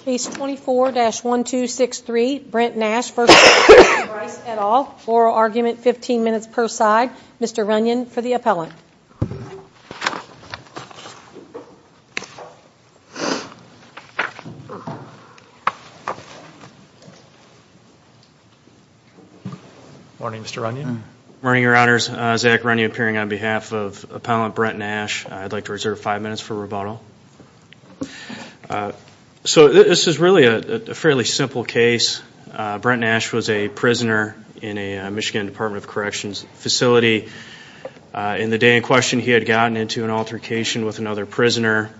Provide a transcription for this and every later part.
Case 24-1263 Brent Nash v. Austin Bryce et al. Oral argument 15 minutes per side. Mr. Runyon for the appellant. Morning Mr. Runyon. Morning your honors. Zach Runyon appearing on behalf of appellant Brent Nash. I'd like to reserve 5 minutes for rebuttal. So this is really a fairly simple case. Brent Nash was a prisoner in a Michigan Department of Corrections facility. In the day in question he had gotten into an altercation with another prisoner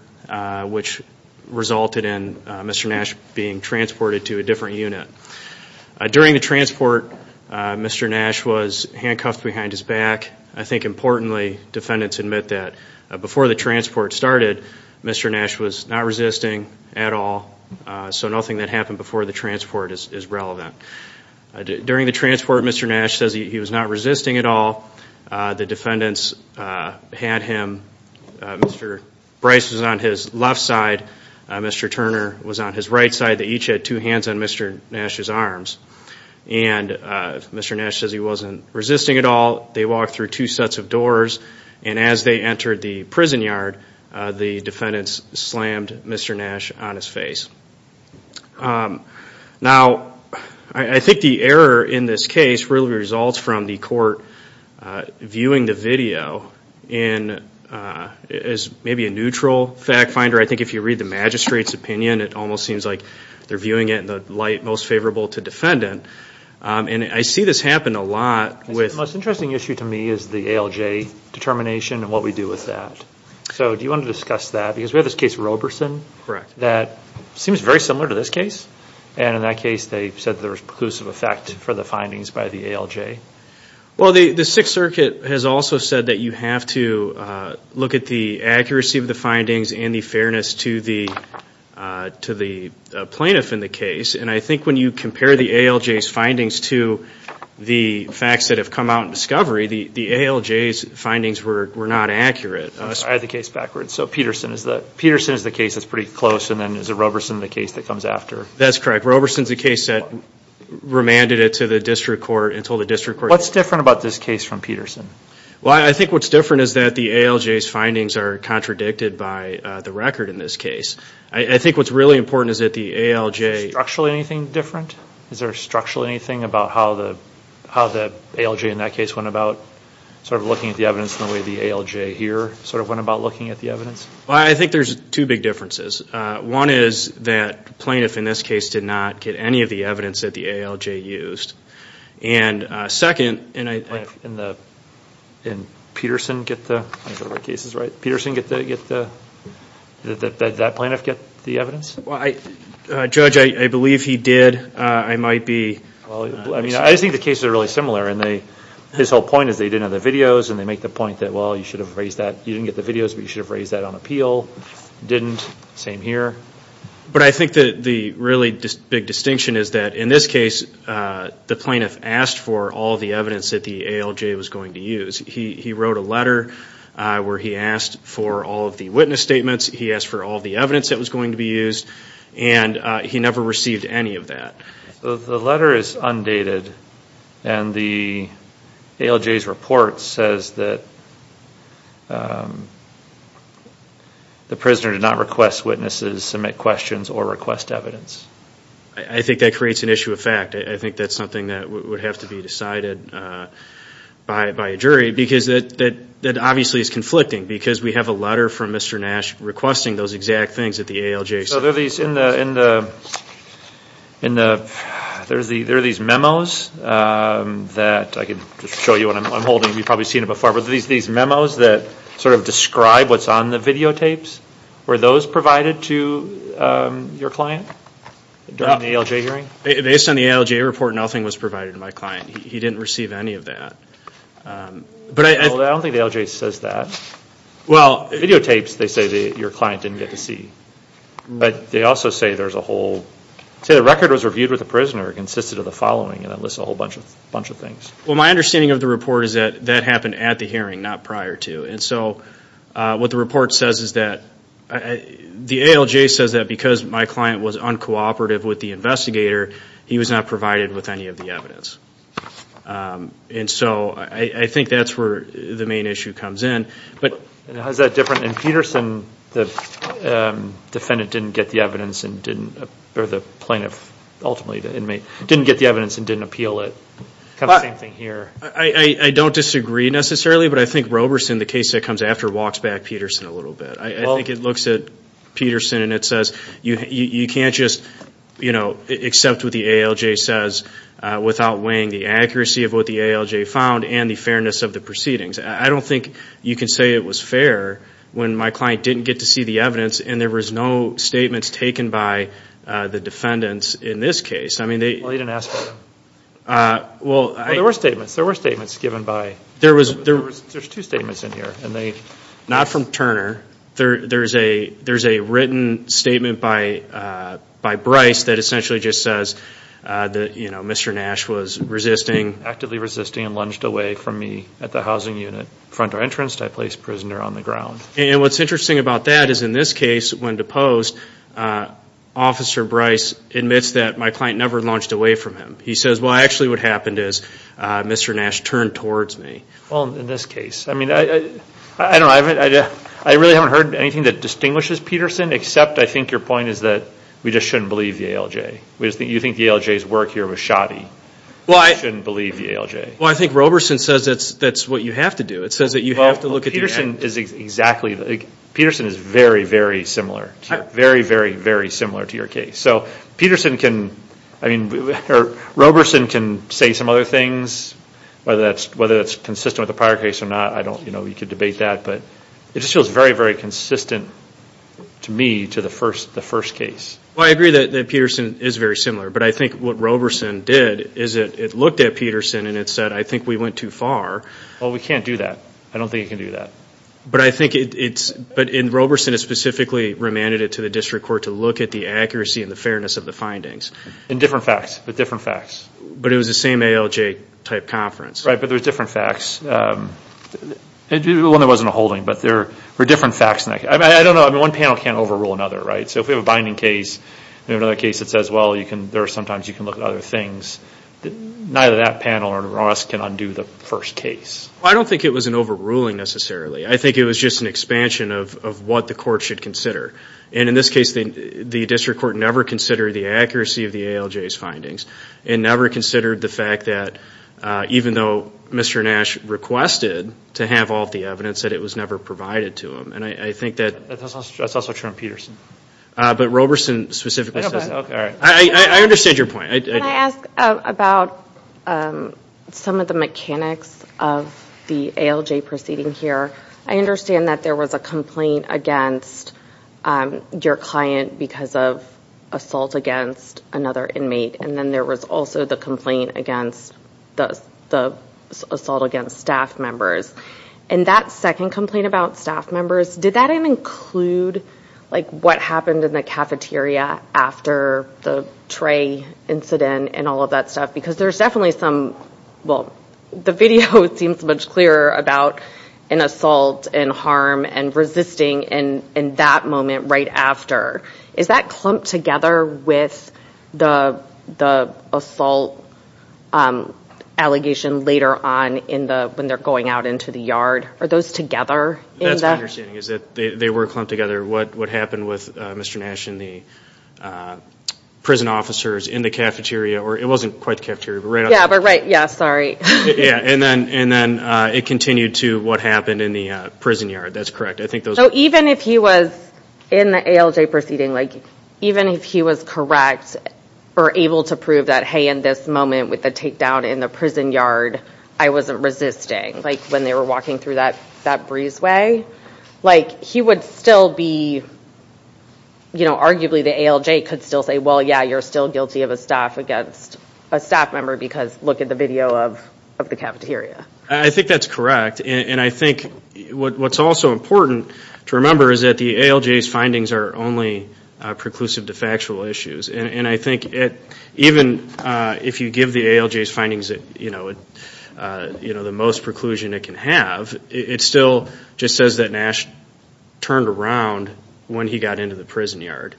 which resulted in Mr. Nash being transported to a different unit. During the transport Mr. Nash was handcuffed behind his back. I think importantly defendants admit that before the transport started Mr. Nash was not resisting at all. So nothing that happened before the transport is relevant. During the transport Mr. Nash says he was not resisting at all. The defendants had him. Mr. Bryce was on his left side. Mr. Turner was on his right side. They each had two hands on Mr. Nash's arms. Mr. Nash says he wasn't resisting at all. They walked through two sets of doors and as they entered the prison yard the defendants slammed Mr. Nash on his face. Now I think the error in this case really results from the court viewing the video as maybe a neutral fact finder. I think if you read the magistrate's opinion it almost seems like they're viewing it in the light most favorable to defendant. I see this happen a lot. The most interesting issue to me is the ALJ determination and what we do with that. So do you want to discuss that because we have this case Roberson that seems very similar to this case and in that case they said there was preclusive effect for the findings by the ALJ. Well the Sixth Circuit has also said that you have to look at the accuracy of the findings and the fairness to the plaintiff in the case and I think when you compare the ALJ's findings to the facts that have come out in discovery the ALJ's findings were not accurate. I had the case backwards. So Peterson is the case that's pretty close and then is Roberson the case that comes after? That's correct. Roberson's the case that remanded it to the district court and told the district court. What's different about this case from Peterson? Well I think what's different is that the ALJ's findings are contradicted by the record in this case. I think what's really important is that the ALJ... Is there structurally anything different? Is there structurally anything about how the ALJ in that case went about sort of looking at the evidence the way the ALJ here sort of went about looking at the evidence? Well I think there's two big differences. One is that the plaintiff in this case did not get any of the evidence that the ALJ used. And second... And Peterson get the... Peterson get the... Did that plaintiff get the evidence? Well I... Judge I believe he did. I might be... Well I mean I think the cases are really similar and they... His whole point is they didn't have the videos and they make the point that well you should have raised that... You didn't get the videos but you should have raised that on appeal. Didn't. Same here. But I think that the really big distinction is that in this case the plaintiff asked for all the evidence that the ALJ was going to use. He wrote a letter where he asked for all of the witness statements. He asked for all the evidence that was going to be used. And he never received any of that. The letter is undated and the ALJ's report says that the prisoner did not request witnesses, submit questions or request evidence. I think that creates an issue of fact. I think that's something that would have to be decided by a jury because that obviously is conflicting because we have a letter from Mr. Nash requesting those exact things that the ALJ... So there are these in the... There are these memos that I can just show you what I'm holding. You've probably seen it before but these memos that sort of describe what's on the videotapes. Were those provided to your client during the ALJ hearing? Based on the ALJ report nothing was provided to my client. He didn't receive any of that. I don't think the ALJ says that. Videotapes they say your client didn't get to see. But they also say there's a whole... They say the record was reviewed with the prisoner consisted of the following and it lists a whole bunch of things. Well my understanding of the report is that that happened at the hearing not prior to. And so what the report says is that... The ALJ says that because my client was uncooperative with the investigator he was not provided with any of the evidence. And so I think that's where the main issue comes in. How's that different? In Peterson the defendant didn't get the evidence and didn't... Or the plaintiff ultimately the inmate didn't get the evidence and didn't appeal it. Kind of the same thing here. I don't disagree necessarily but I think Roberson the case that comes after walks back Peterson a little bit. I think it looks at Peterson and it says you can't just accept what the ALJ says without weighing the accuracy of what the ALJ found and the fairness of the proceedings. I don't think you can say it was fair when my client didn't get to see the evidence and there was no statements taken by the defendants in this case. Well you didn't ask for them. Well I... There were statements. There were statements given by... There was... There's two statements in here. Not from Turner. There's a written statement by Bryce that essentially just says that Mr. Nash was resisting... Actively resisting and lunged away from me at the housing unit front entrance. I placed prisoner on the ground. And what's interesting about that is in this case when deposed Officer Bryce admits that my client never lunged away from him. He says well actually what happened is Mr. Nash turned towards me. Well in this case. I mean I don't know. I really haven't heard anything that distinguishes Peterson except I think your point is that we just shouldn't believe the ALJ. You think the ALJ's work here was shoddy. Well I... We shouldn't believe the ALJ. Well I think Roberson says that's what you have to do. It says that you have to look at the... Well Peterson is exactly... Peterson is very, very similar. Very, very, very similar to your case. So Peterson can... I mean Roberson can say some other things whether that's consistent with the prior case or not. I don't... You know you could debate that. But it just feels very, very consistent to me to the first case. Well I agree that Peterson is very similar. But I think what Roberson did is it looked at Peterson and it said I think we went too far. Well we can't do that. I don't think you can do that. But I think it's... But in Roberson it specifically remanded it to the district court to look at the accuracy and the fairness of the findings. In different facts. With different facts. But it was the same ALJ type conference. Right. But there was different facts. Well there wasn't a holding but there were different facts. I don't know. I mean one panel can't overrule another, right? So if we have a binding case and another case that says well you can... There are sometimes you can look at other things. Neither that panel nor us can undo the first case. I don't think it was an overruling necessarily. I think it was just an expansion of what the court should consider. And in this case the district court never considered the accuracy of the ALJ's findings. It never considered the fact that even though Mr. Nash requested to have all the evidence that it was never provided to him. And I think that... That's also true on Peterson. But Roberson specifically says that. I understand your point. Can I ask about some of the mechanics of the ALJ proceeding here? I understand that there was a complaint against your client because of assault against another inmate. And then there was also the complaint against the assault against staff members. And that second complaint about staff members. Did that even include like what happened in the cafeteria after the Trey incident and all of that stuff? Because there's definitely some... Well the video seems much clearer about an assault and harm and resisting in that moment right after. Is that clumped together with the assault allegation later on when they're going out into the yard? Are those together? That's my understanding. They were clumped together. What happened with Mr. Nash and the prison officers in the cafeteria. It wasn't quite the cafeteria. Yeah, sorry. And then it continued to what happened in the prison yard. That's correct. So even if he was in the ALJ proceeding, like even if he was correct or able to prove that, hey in this moment with the takedown in the prison yard, I wasn't resisting. Like when they were walking through that breezeway. Like he would still be, you know, arguably the ALJ could still say, well yeah you're still guilty of a staff member because look at the video of the cafeteria. I think that's correct. And I think what's also important to remember is that the ALJ's findings are only preclusive to factual issues. And I think even if you give the ALJ's findings, you know, the most preclusion it can have, it still just says that Nash turned around when he got into the prison yard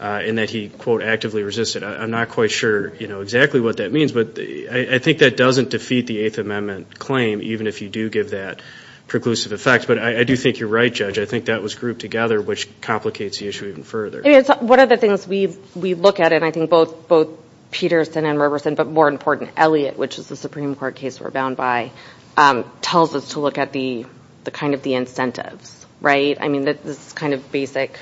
and that he, quote, actively resisted. I'm not quite sure, you know, exactly what that means. But I think that doesn't defeat the Eighth Amendment claim, even if you do give that preclusive effect. But I do think you're right, Judge. I think that was grouped together, which complicates the issue even further. One of the things we look at, and I think both Peterson and Roberson, but more important, Elliott, which is the Supreme Court case we're bound by, tells us to look at the kind of the incentives, right? I mean this kind of basic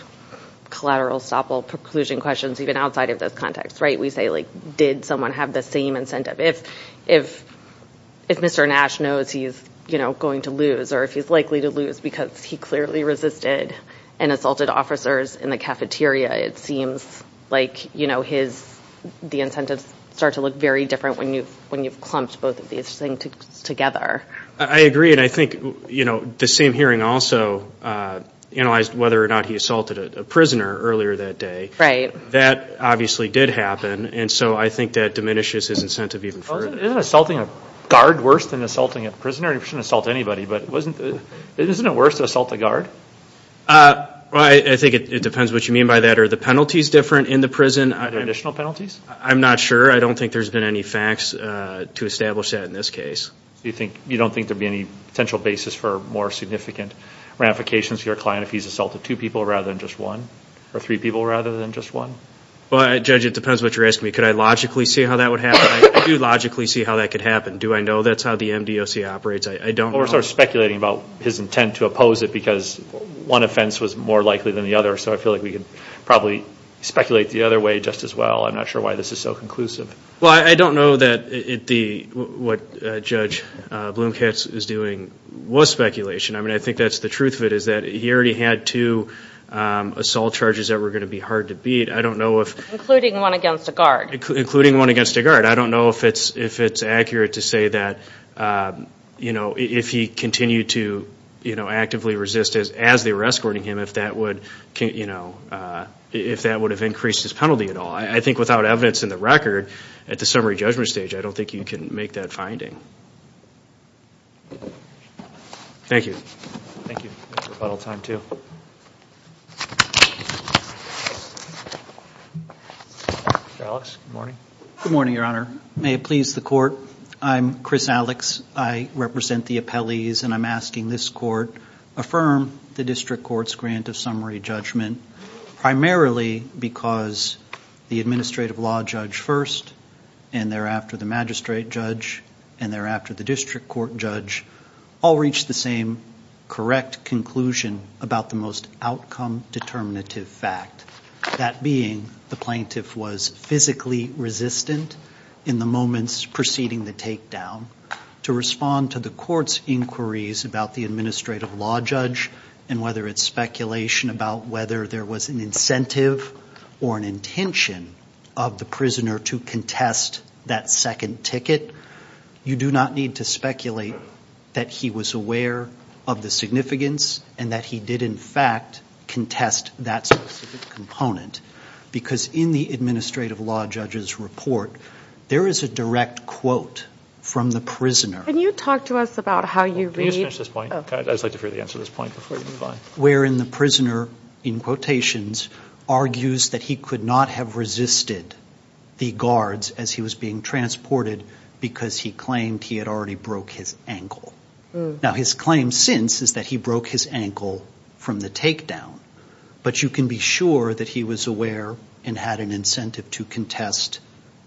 collateral stop all preclusion questions even outside of this context, right? We say, like, did someone have the same incentive? If Mr. Nash knows he's, you know, going to lose, or if he's likely to lose because he clearly resisted and assaulted officers in the cafeteria, it seems like, you know, the incentives start to look very different when you've clumped both of these things together. I agree. And I think, you know, the same hearing also analyzed whether or not he assaulted a prisoner earlier that day. Right. That obviously did happen, and so I think that diminishes his incentive even further. Isn't assaulting a guard worse than assaulting a prisoner? He shouldn't assault anybody, but isn't it worse to assault a guard? I think it depends what you mean by that. Are the penalties different in the prison? Are there additional penalties? I'm not sure. I don't think there's been any facts to establish that in this case. So you don't think there would be any potential basis for more significant ramifications for your client if he's assaulted two people rather than just one, or three people rather than just one? Well, Judge, it depends what you're asking me. Could I logically see how that would happen? I do logically see how that could happen. Do I know that's how the MDOC operates? I don't know. Well, we're sort of speculating about his intent to oppose it because one offense was more likely than the other, so I feel like we could probably speculate the other way just as well. I'm not sure why this is so conclusive. Well, I don't know that what Judge Blumkatz is doing was speculation. I mean, I think that's the truth of it is that he already had two assault charges that were going to be hard to beat. Including one against a guard. Including one against a guard. I don't know if it's accurate to say that if he continued to actively resist as they were escorting him, if that would have increased his penalty at all. I think without evidence in the record at the summary judgment stage, I don't think you can make that finding. Thank you. Thank you. It's rebuttal time, too. Alex, good morning. Good morning, Your Honor. May it please the Court, I'm Chris Alex. I represent the appellees, and I'm asking this Court, affirm the district court's grant of summary judgment primarily because the administrative law judge first, and thereafter the magistrate judge, and thereafter the district court judge, all reached the same correct conclusion about the most outcome determinative fact. That being the plaintiff was physically resistant in the moments preceding the takedown to respond to the court's inquiries about the administrative law judge and whether it's speculation about whether there was an incentive or an intention of the prisoner to contest that second ticket. You do not need to speculate that he was aware of the significance and that he did, in fact, contest that specific component because in the administrative law judge's report, there is a direct quote from the prisoner. Can you talk to us about how you read? Can you just finish this point? I'd just like to hear the answer to this point before you move on. Wherein the prisoner, in quotations, argues that he could not have resisted the guards as he was being transported because he claimed he had already broke his ankle. Now his claim since is that he broke his ankle from the takedown, but you can be sure that he was aware and had an incentive to contest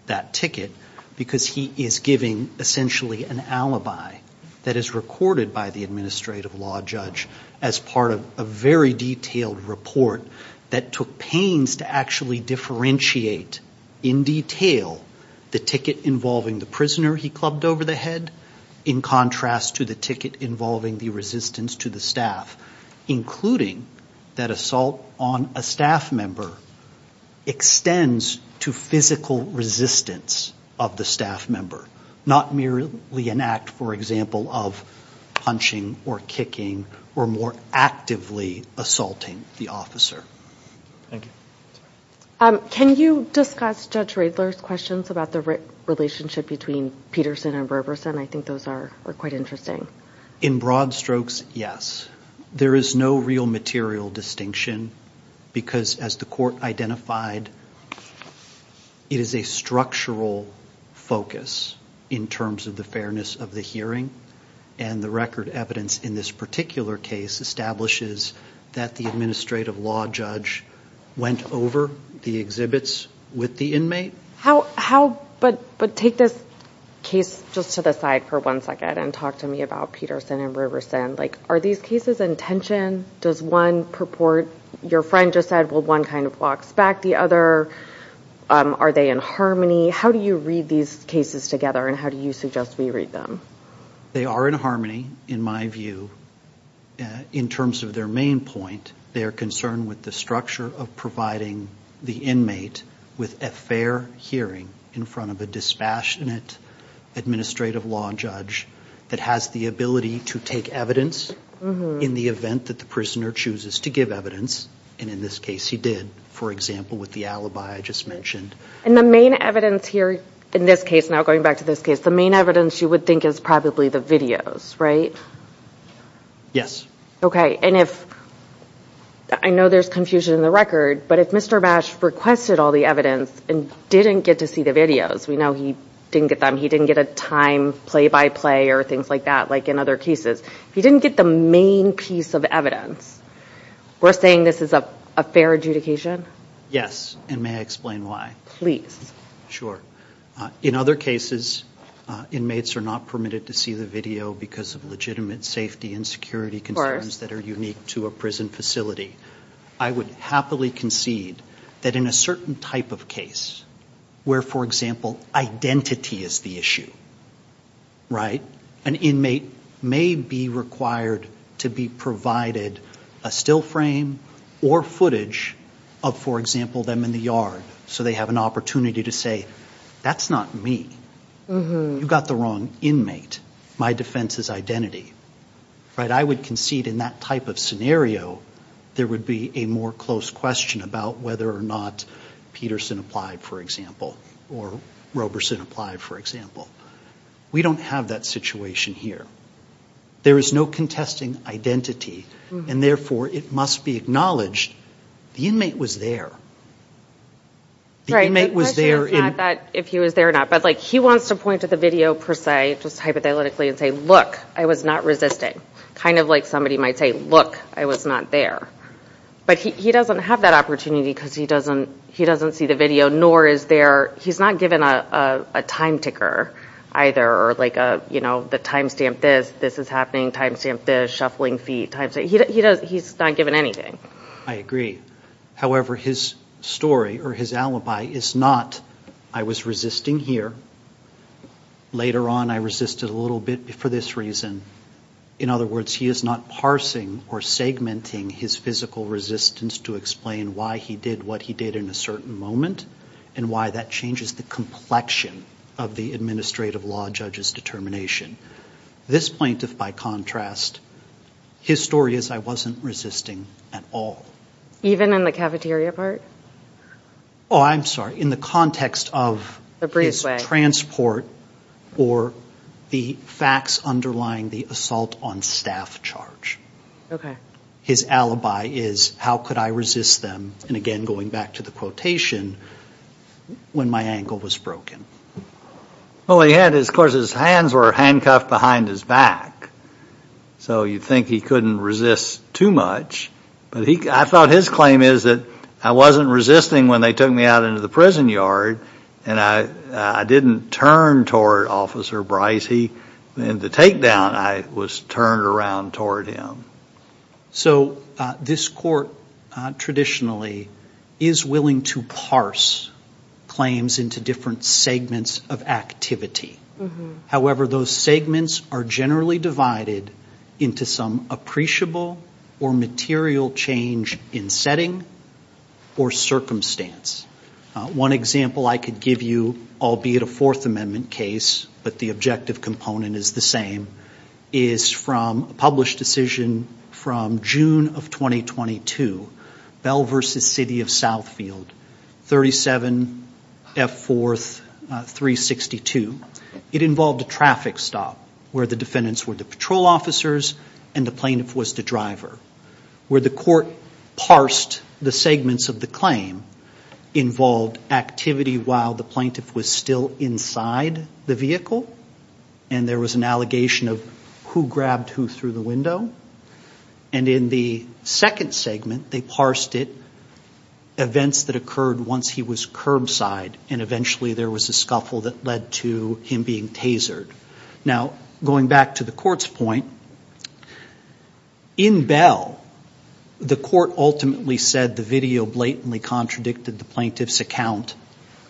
that ticket because he is giving essentially an alibi that is recorded by the administrative law judge as part of a very detailed report that took pains to actually differentiate in detail the ticket involving the prisoner he clubbed over the head in contrast to the ticket involving the resistance to the staff, including that assault on a staff member extends to physical resistance of the staff member, not merely an act, for example, of punching or kicking or more actively assaulting the officer. Thank you. Can you discuss Judge Riedler's questions about the relationship between Peterson and Berberson? I think those are quite interesting. In broad strokes, yes. There is no real material distinction because, as the court identified, it is a structural focus in terms of the fairness of the hearing, and the record evidence in this particular case establishes that the administrative law judge went over the exhibits with the inmate. But take this case just to the side for one second and talk to me about Peterson and Berberson. Like, are these cases in tension? Does one purport your friend just said, well, one kind of walks back the other? Are they in harmony? How do you read these cases together, and how do you suggest we read them? They are in harmony, in my view. In terms of their main point, they are concerned with the structure of providing the inmate with a fair hearing in front of a dispassionate administrative law judge that has the ability to take evidence in the event that the prisoner chooses to give evidence, and in this case he did, for example, with the alibi I just mentioned. And the main evidence here in this case, now going back to this case, the main evidence you would think is probably the videos, right? Yes. Okay. And I know there's confusion in the record, but if Mr. Bash requested all the evidence and didn't get to see the videos, we know he didn't get them, he didn't get a time play-by-play or things like that like in other cases. If he didn't get the main piece of evidence, we're saying this is a fair adjudication? Yes, and may I explain why? Sure. In other cases, inmates are not permitted to see the video because of legitimate safety and security concerns that are unique to a prison facility. I would happily concede that in a certain type of case where, for example, identity is the issue, right, an inmate may be required to be provided a still frame or footage of, for example, them in the yard so they have an opportunity to say, that's not me. You've got the wrong inmate. My defense is identity. I would concede in that type of scenario there would be a more close question about whether or not Peterson applied, for example, or Roberson applied, for example. We don't have that situation here. There is no contesting identity, and therefore, it must be acknowledged the inmate was there. The question is not if he was there or not, but he wants to point to the video per se, just hypothetically, and say, look, I was not resisting. Kind of like somebody might say, look, I was not there. But he doesn't have that opportunity because he doesn't see the video, nor is there, he's not given a time ticker either, or like a, you know, the time stamp this, this is happening, time stamp this, shuffling feet, time stamp, he's not given anything. I agree. However, his story or his alibi is not, I was resisting here, later on I resisted a little bit for this reason. In other words, he is not parsing or segmenting his physical resistance to explain why he did what he did in a certain moment and why that changes the complexion of the administrative law judge's determination. This plaintiff, by contrast, his story is I wasn't resisting at all. Even in the cafeteria part? Oh, I'm sorry. In the context of his transport or the facts underlying the assault on staff charge. Okay. His alibi is how could I resist them, and again, going back to the quotation, when my ankle was broken. Well, he had, of course, his hands were handcuffed behind his back, so you'd think he couldn't resist too much. I thought his claim is that I wasn't resisting when they took me out into the prison yard and I didn't turn toward Officer Bryce. In the takedown, I was turned around toward him. So this court, traditionally, is willing to parse claims into different segments of activity. However, those segments are generally divided into some appreciable or material change in setting or circumstance. One example I could give you, albeit a Fourth Amendment case, but the objective component is the same, is from a published decision from June of 2022, Bell v. City of Southfield, 37F4362. It involved a traffic stop where the defendants were the patrol officers and the plaintiff was the driver. Where the court parsed the segments of the claim involved activity while the plaintiff was still inside the vehicle and there was an allegation of who grabbed who through the window. And in the second segment, they parsed it, events that occurred once he was curbside and eventually there was a scuffle that led to him being tasered. Now, going back to the court's point, in Bell, the court ultimately said the video blatantly contradicted the plaintiff's account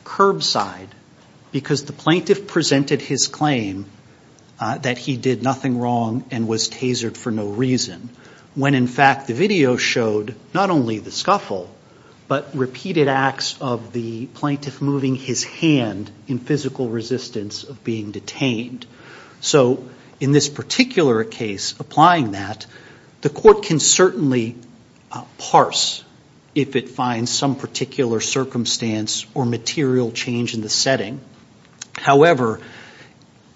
curbside because the plaintiff presented his claim that he did nothing wrong and was tasered for no reason. When, in fact, the video showed not only the scuffle, but repeated acts of the plaintiff moving his hand in physical resistance of being detained. So, in this particular case, applying that, the court can certainly parse if it finds some particular circumstance or material change in the setting. However,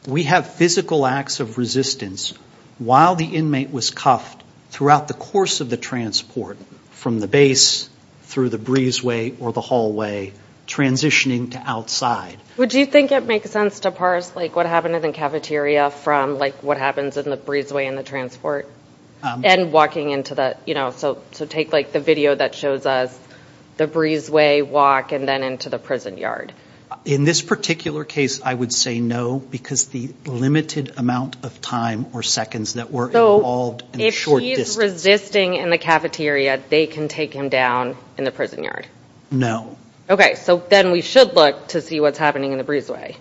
we have physical acts of resistance while the inmate was cuffed throughout the course of the transport, from the base through the breezeway or the hallway, transitioning to outside. Would you think it makes sense to parse what happened in the cafeteria from what happens in the breezeway in the transport? So, take the video that shows us the breezeway walk and then into the prison yard. In this particular case, I would say no because the limited amount of time or seconds that were involved in the short distance. So, if he's resisting in the cafeteria, they can take him down in the prison yard? No. Okay, so then we should look to see what's happening in the breezeway.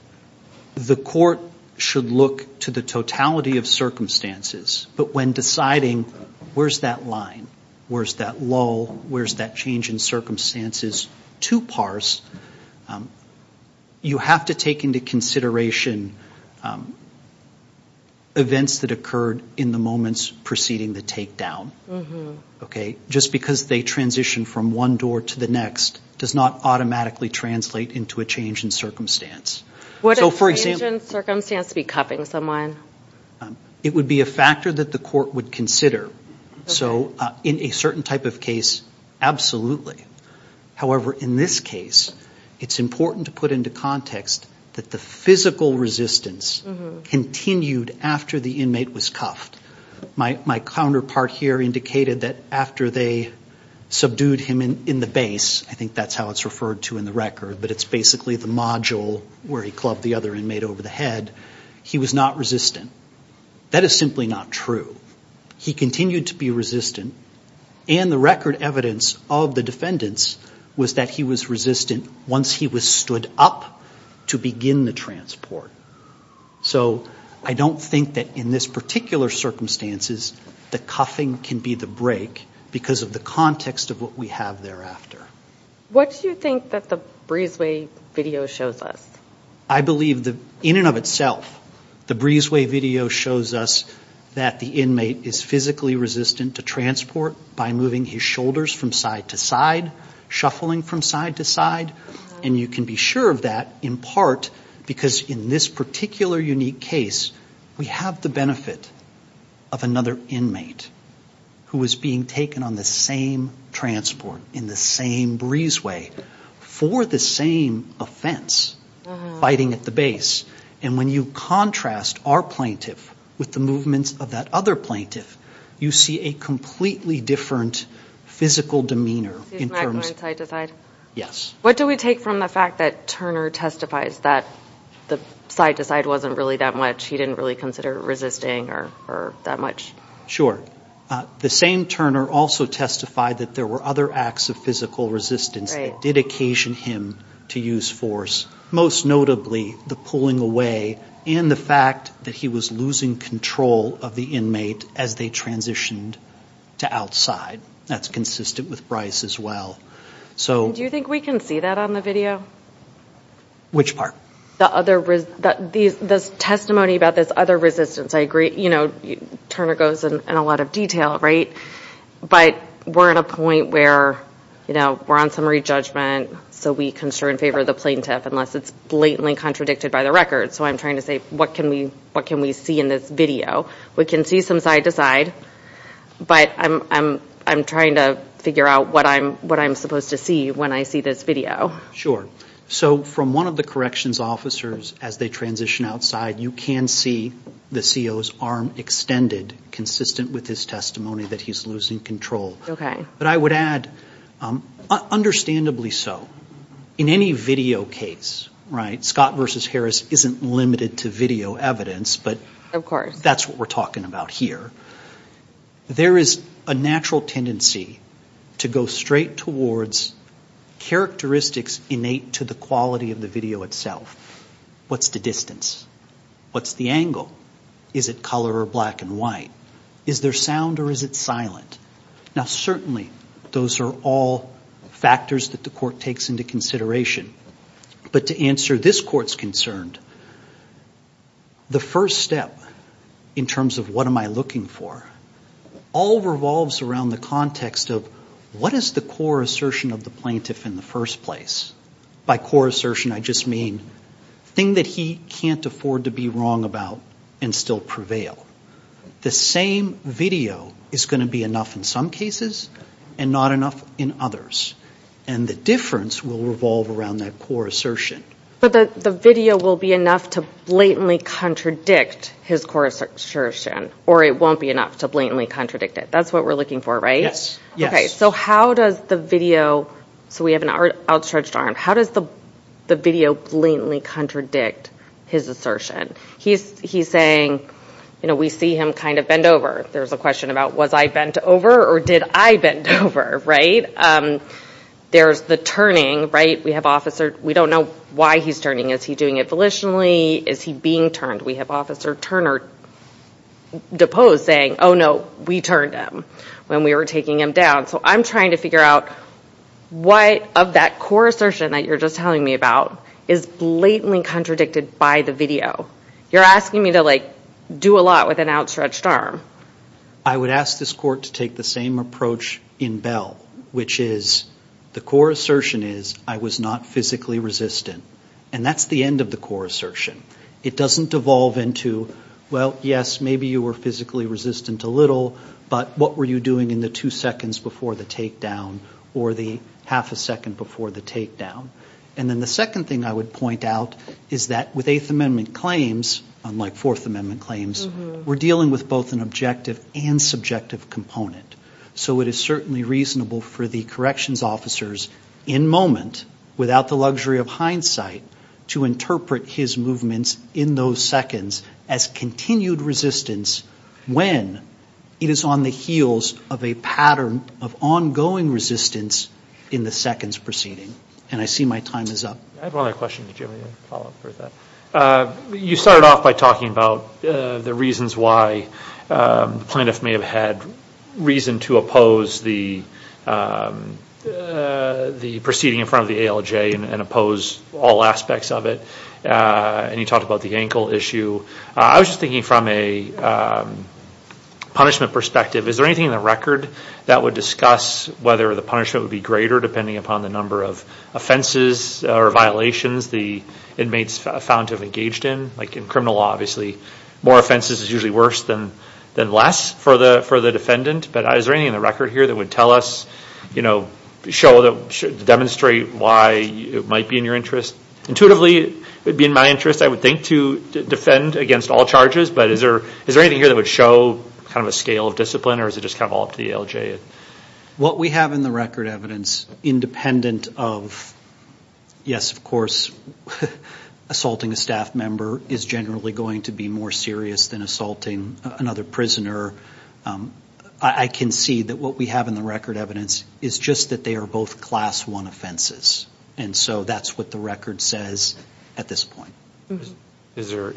The court should look to the totality of circumstances. But when deciding where's that line, where's that lull, where's that change in circumstances to parse, you have to take into consideration events that occurred in the moments preceding the takedown. Just because they transition from one door to the next does not automatically translate into a change in circumstance. Would a change in circumstance be cuffing someone? It would be a factor that the court would consider. So, in a certain type of case, absolutely. However, in this case, it's important to put into context that the physical resistance continued after the inmate was cuffed. My counterpart here indicated that after they subdued him in the base, I think that's how it's referred to in the record, but it's basically the module where he clubbed the other inmate over the head, he was not resistant. That is simply not true. He continued to be resistant. And the record evidence of the defendants was that he was resistant once he was stood up to begin the transport. So I don't think that in this particular circumstances, the cuffing can be the break because of the context of what we have thereafter. What do you think that the Breezeway video shows us? I believe, in and of itself, the Breezeway video shows us that the inmate is physically resistant to transport by moving his shoulders from side to side, shuffling from side to side. And you can be sure of that, in part, because in this particular unique case, we have the benefit of another inmate who was being taken on the same transport, in the same Breezeway, for the same offense, fighting at the base. And when you contrast our plaintiff with the movements of that other plaintiff, you see a completely different physical demeanor. He's not going side to side. Yes. What do we take from the fact that Turner testifies that the side to side wasn't really that much? He didn't really consider resisting or that much? Sure. The same Turner also testified that there were other acts of physical resistance that did occasion him to use force, most notably the pulling away and the fact that he was losing control of the inmate as they transitioned to outside. That's consistent with Bryce as well. Do you think we can see that on the video? Which part? The testimony about this other resistance. I agree, you know, Turner goes into a lot of detail, right? But we're at a point where, you know, we're on summary judgment, so we can serve in favor of the plaintiff unless it's blatantly contradicted by the record. So I'm trying to say, what can we see in this video? We can see some side to side, but I'm trying to figure out what I'm supposed to see when I see this video. Sure. So from one of the corrections officers as they transition outside, you can see the CO's arm extended consistent with his testimony that he's losing control. Okay. But I would add, understandably so, in any video case, right, Scott versus Harris isn't limited to video evidence. Of course. But that's what we're talking about here. There is a natural tendency to go straight towards characteristics innate to the quality of the video itself. What's the distance? What's the angle? Is it color or black and white? Is there sound or is it silent? Now, certainly those are all factors that the court takes into consideration. But to answer this court's concern, the first step in terms of what am I looking for, all revolves around the context of what is the core assertion of the plaintiff in the first place? By core assertion, I just mean thing that he can't afford to be wrong about and still prevail. The same video is going to be enough in some cases and not enough in others. And the difference will revolve around that core assertion. But the video will be enough to blatantly contradict his core assertion, or it won't be enough to blatantly contradict it. That's what we're looking for, right? Yes. Okay. So how does the video, so we have an outstretched arm, how does the video blatantly contradict his assertion? He's saying, you know, we see him kind of bend over. There's a question about was I bent over or did I bend over, right? There's the turning, right? We don't know why he's turning. Is he doing it volitionally? Is he being turned? We have Officer Turner deposed saying, oh, no, we turned him when we were taking him down. So I'm trying to figure out what of that core assertion that you're just telling me about is blatantly contradicted by the video. You're asking me to, like, do a lot with an outstretched arm. I would ask this court to take the same approach in Bell, which is the core assertion is I was not physically resistant. And that's the end of the core assertion. It doesn't devolve into, well, yes, maybe you were physically resistant a little, but what were you doing in the two seconds before the takedown or the half a second before the takedown? And then the second thing I would point out is that with Eighth Amendment claims, unlike Fourth Amendment claims, we're dealing with both an objective and subjective component. So it is certainly reasonable for the corrections officers in moment, without the luxury of hindsight, to interpret his movements in those seconds as continued resistance when it is on the heels of a pattern of ongoing resistance in the seconds proceeding. And I see my time is up. I have one other question. Did you have any follow-up for that? You started off by talking about the reasons why the plaintiff may have had reason to oppose the proceeding in front of the ALJ and oppose all aspects of it. And you talked about the ankle issue. I was just thinking from a punishment perspective, is there anything in the record that would discuss whether the punishment would be greater depending upon the number of offenses or violations the inmates found to have engaged in? Like in criminal law, obviously, more offenses is usually worse than less for the defendant. But is there anything in the record here that would tell us, show, demonstrate why it might be in your interest? Intuitively, it would be in my interest, I would think, to defend against all charges. But is there anything here that would show kind of a scale of discipline or is it just kind of all up to the ALJ? What we have in the record evidence, independent of, yes, of course, assaulting a staff member is generally going to be more serious than assaulting another prisoner. I can see that what we have in the record evidence is just that they are both class one offenses. And so that's what the record says at this point. Is there,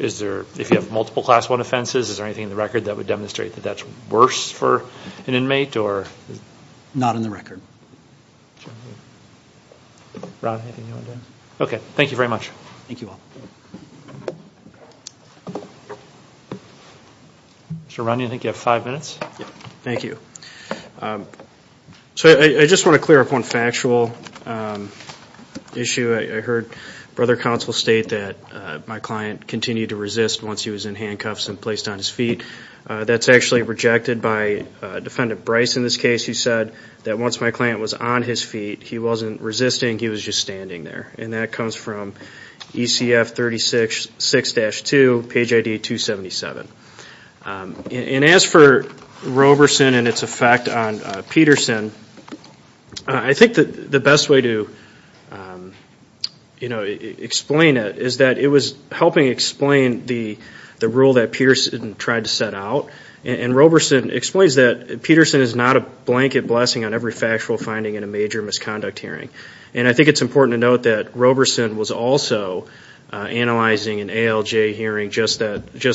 if you have multiple class one offenses, is there anything in the record that would demonstrate that that's worse for an inmate or? Not in the record. Ron, anything you want to add? Okay, thank you very much. Thank you all. Mr. Romney, I think you have five minutes. Thank you. So I just want to clear up one factual issue. I heard Brother Counsel state that my client continued to resist once he was in handcuffs and placed on his feet. That's actually rejected by Defendant Bryce in this case. He said that once my client was on his feet, he wasn't resisting, he was just standing there. And that comes from ECF 36-6-2, page ID 277. And as for Roberson and its effect on Peterson, I think the best way to explain it is that it was helping explain the rule that Peterson tried to set out. And Roberson explains that Peterson is not a blanket blessing on every factual finding in a major misconduct hearing. And I think it's important to note that Roberson was also analyzing an ALJ hearing just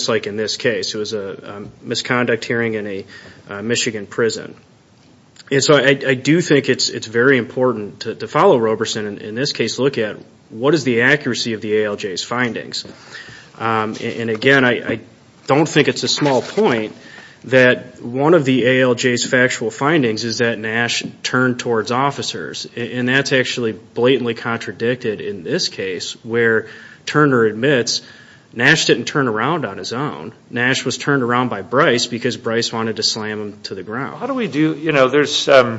like in this case. It was a misconduct hearing in a Michigan prison. And so I do think it's very important to follow Roberson, and in this case look at what is the accuracy of the ALJ's findings. And again, I don't think it's a small point that one of the ALJ's factual findings is that Nash turned towards officers. And that's actually blatantly contradicted in this case where Turner admits Nash didn't turn around on his own. Nash was turned around by Bryce because Bryce wanted to slam him to the ground. How do we do, you know, there's, I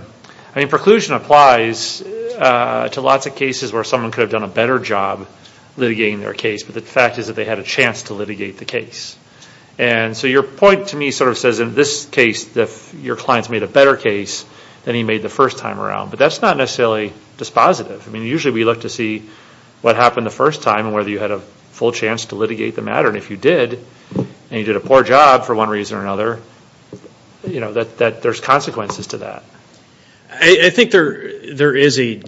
mean, preclusion applies to lots of cases where someone could have done a better job litigating their case. But the fact is that they had a chance to litigate the case. And so your point to me sort of says in this case your client's made a better case than he made the first time around. But that's not necessarily dispositive. I mean, usually we look to see what happened the first time and whether you had a full chance to litigate the matter. And if you did, and you did a poor job for one reason or another, you know, that there's consequences to that. I think there is a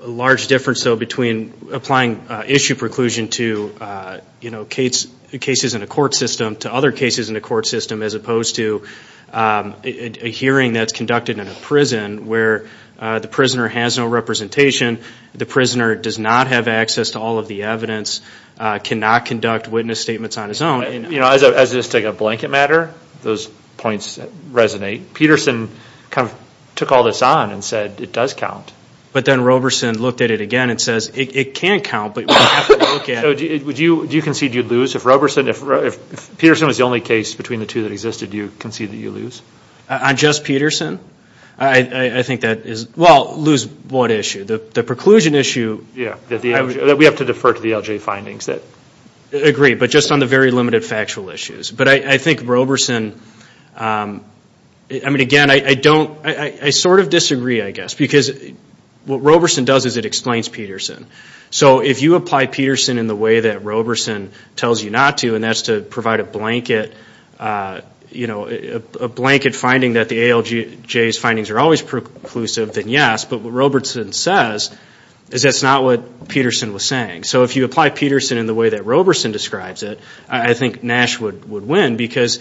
large difference, though, between applying issue preclusion to, you know, cases in a court system, to other cases in the court system, as opposed to a hearing that's conducted in a prison where the prisoner has no representation, the prisoner does not have access to all of the evidence, cannot conduct witness statements on his own. You know, as just to take a blanket matter, those points resonate. Peterson kind of took all this on and said it does count. But then Roberson looked at it again and says it can count, but you have to look at it. So do you concede you lose? If Peterson was the only case between the two that existed, do you concede that you lose? On just Peterson? I think that is – well, lose what issue? The preclusion issue. Yeah, that we have to defer to the LJ findings. Agree, but just on the very limited factual issues. But I think Roberson – I mean, again, I don't – I sort of disagree, I guess, because what Roberson does is it explains Peterson. So if you apply Peterson in the way that Roberson tells you not to, and that's to provide a blanket finding that the ALJ's findings are always preclusive, then yes. But what Roberson says is that's not what Peterson was saying. So if you apply Peterson in the way that Roberson describes it, I think Nash would win. Because,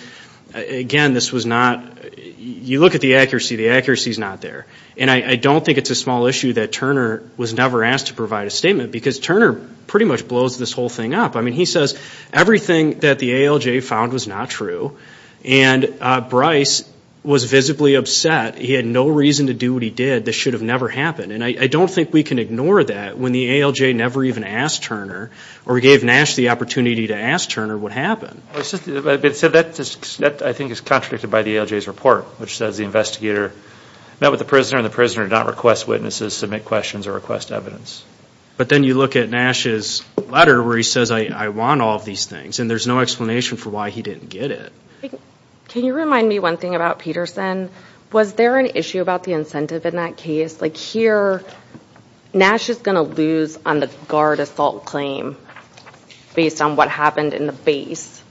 again, this was not – you look at the accuracy, the accuracy is not there. And I don't think it's a small issue that Turner was never asked to provide a statement because Turner pretty much blows this whole thing up. I mean, he says everything that the ALJ found was not true, and Bryce was visibly upset. He had no reason to do what he did. This should have never happened. And I don't think we can ignore that when the ALJ never even asked Turner or gave Nash the opportunity to ask Turner what happened. So that, I think, is contradicted by the ALJ's report, which says the investigator met with the prisoner, and the prisoner did not request witnesses, submit questions, or request evidence. But then you look at Nash's letter where he says, I want all of these things, and there's no explanation for why he didn't get it. Can you remind me one thing about Peterson? Was there an issue about the incentive in that case? Like here, Nash is going to lose on the guard assault claim based on what happened in the base,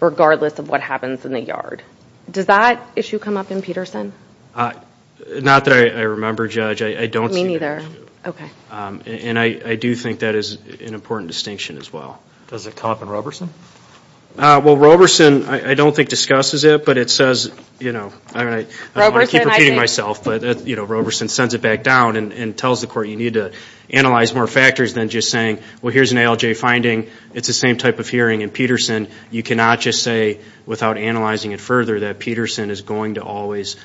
regardless of what happens in the yard. Does that issue come up in Peterson? Not that I remember, Judge. I don't see that issue. Okay. And I do think that is an important distinction as well. Does it come up in Roberson? Well, Roberson I don't think discusses it, but it says, you know, I don't want to keep repeating myself, but Roberson sends it back down and tells the court you need to analyze more factors than just saying, well, here's an ALJ finding. It's the same type of hearing in Peterson. You cannot just say, without analyzing it further, that Peterson is going to always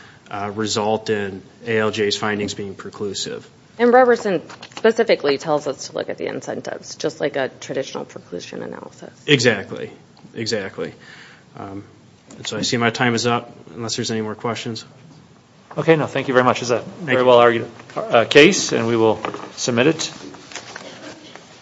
result in ALJ's findings being preclusive. And Roberson specifically tells us to look at the incentives, just like a traditional preclusion analysis. Exactly. So I see my time is up, unless there's any more questions. Okay. No, thank you very much. It was a very well-argued case, and we will submit it.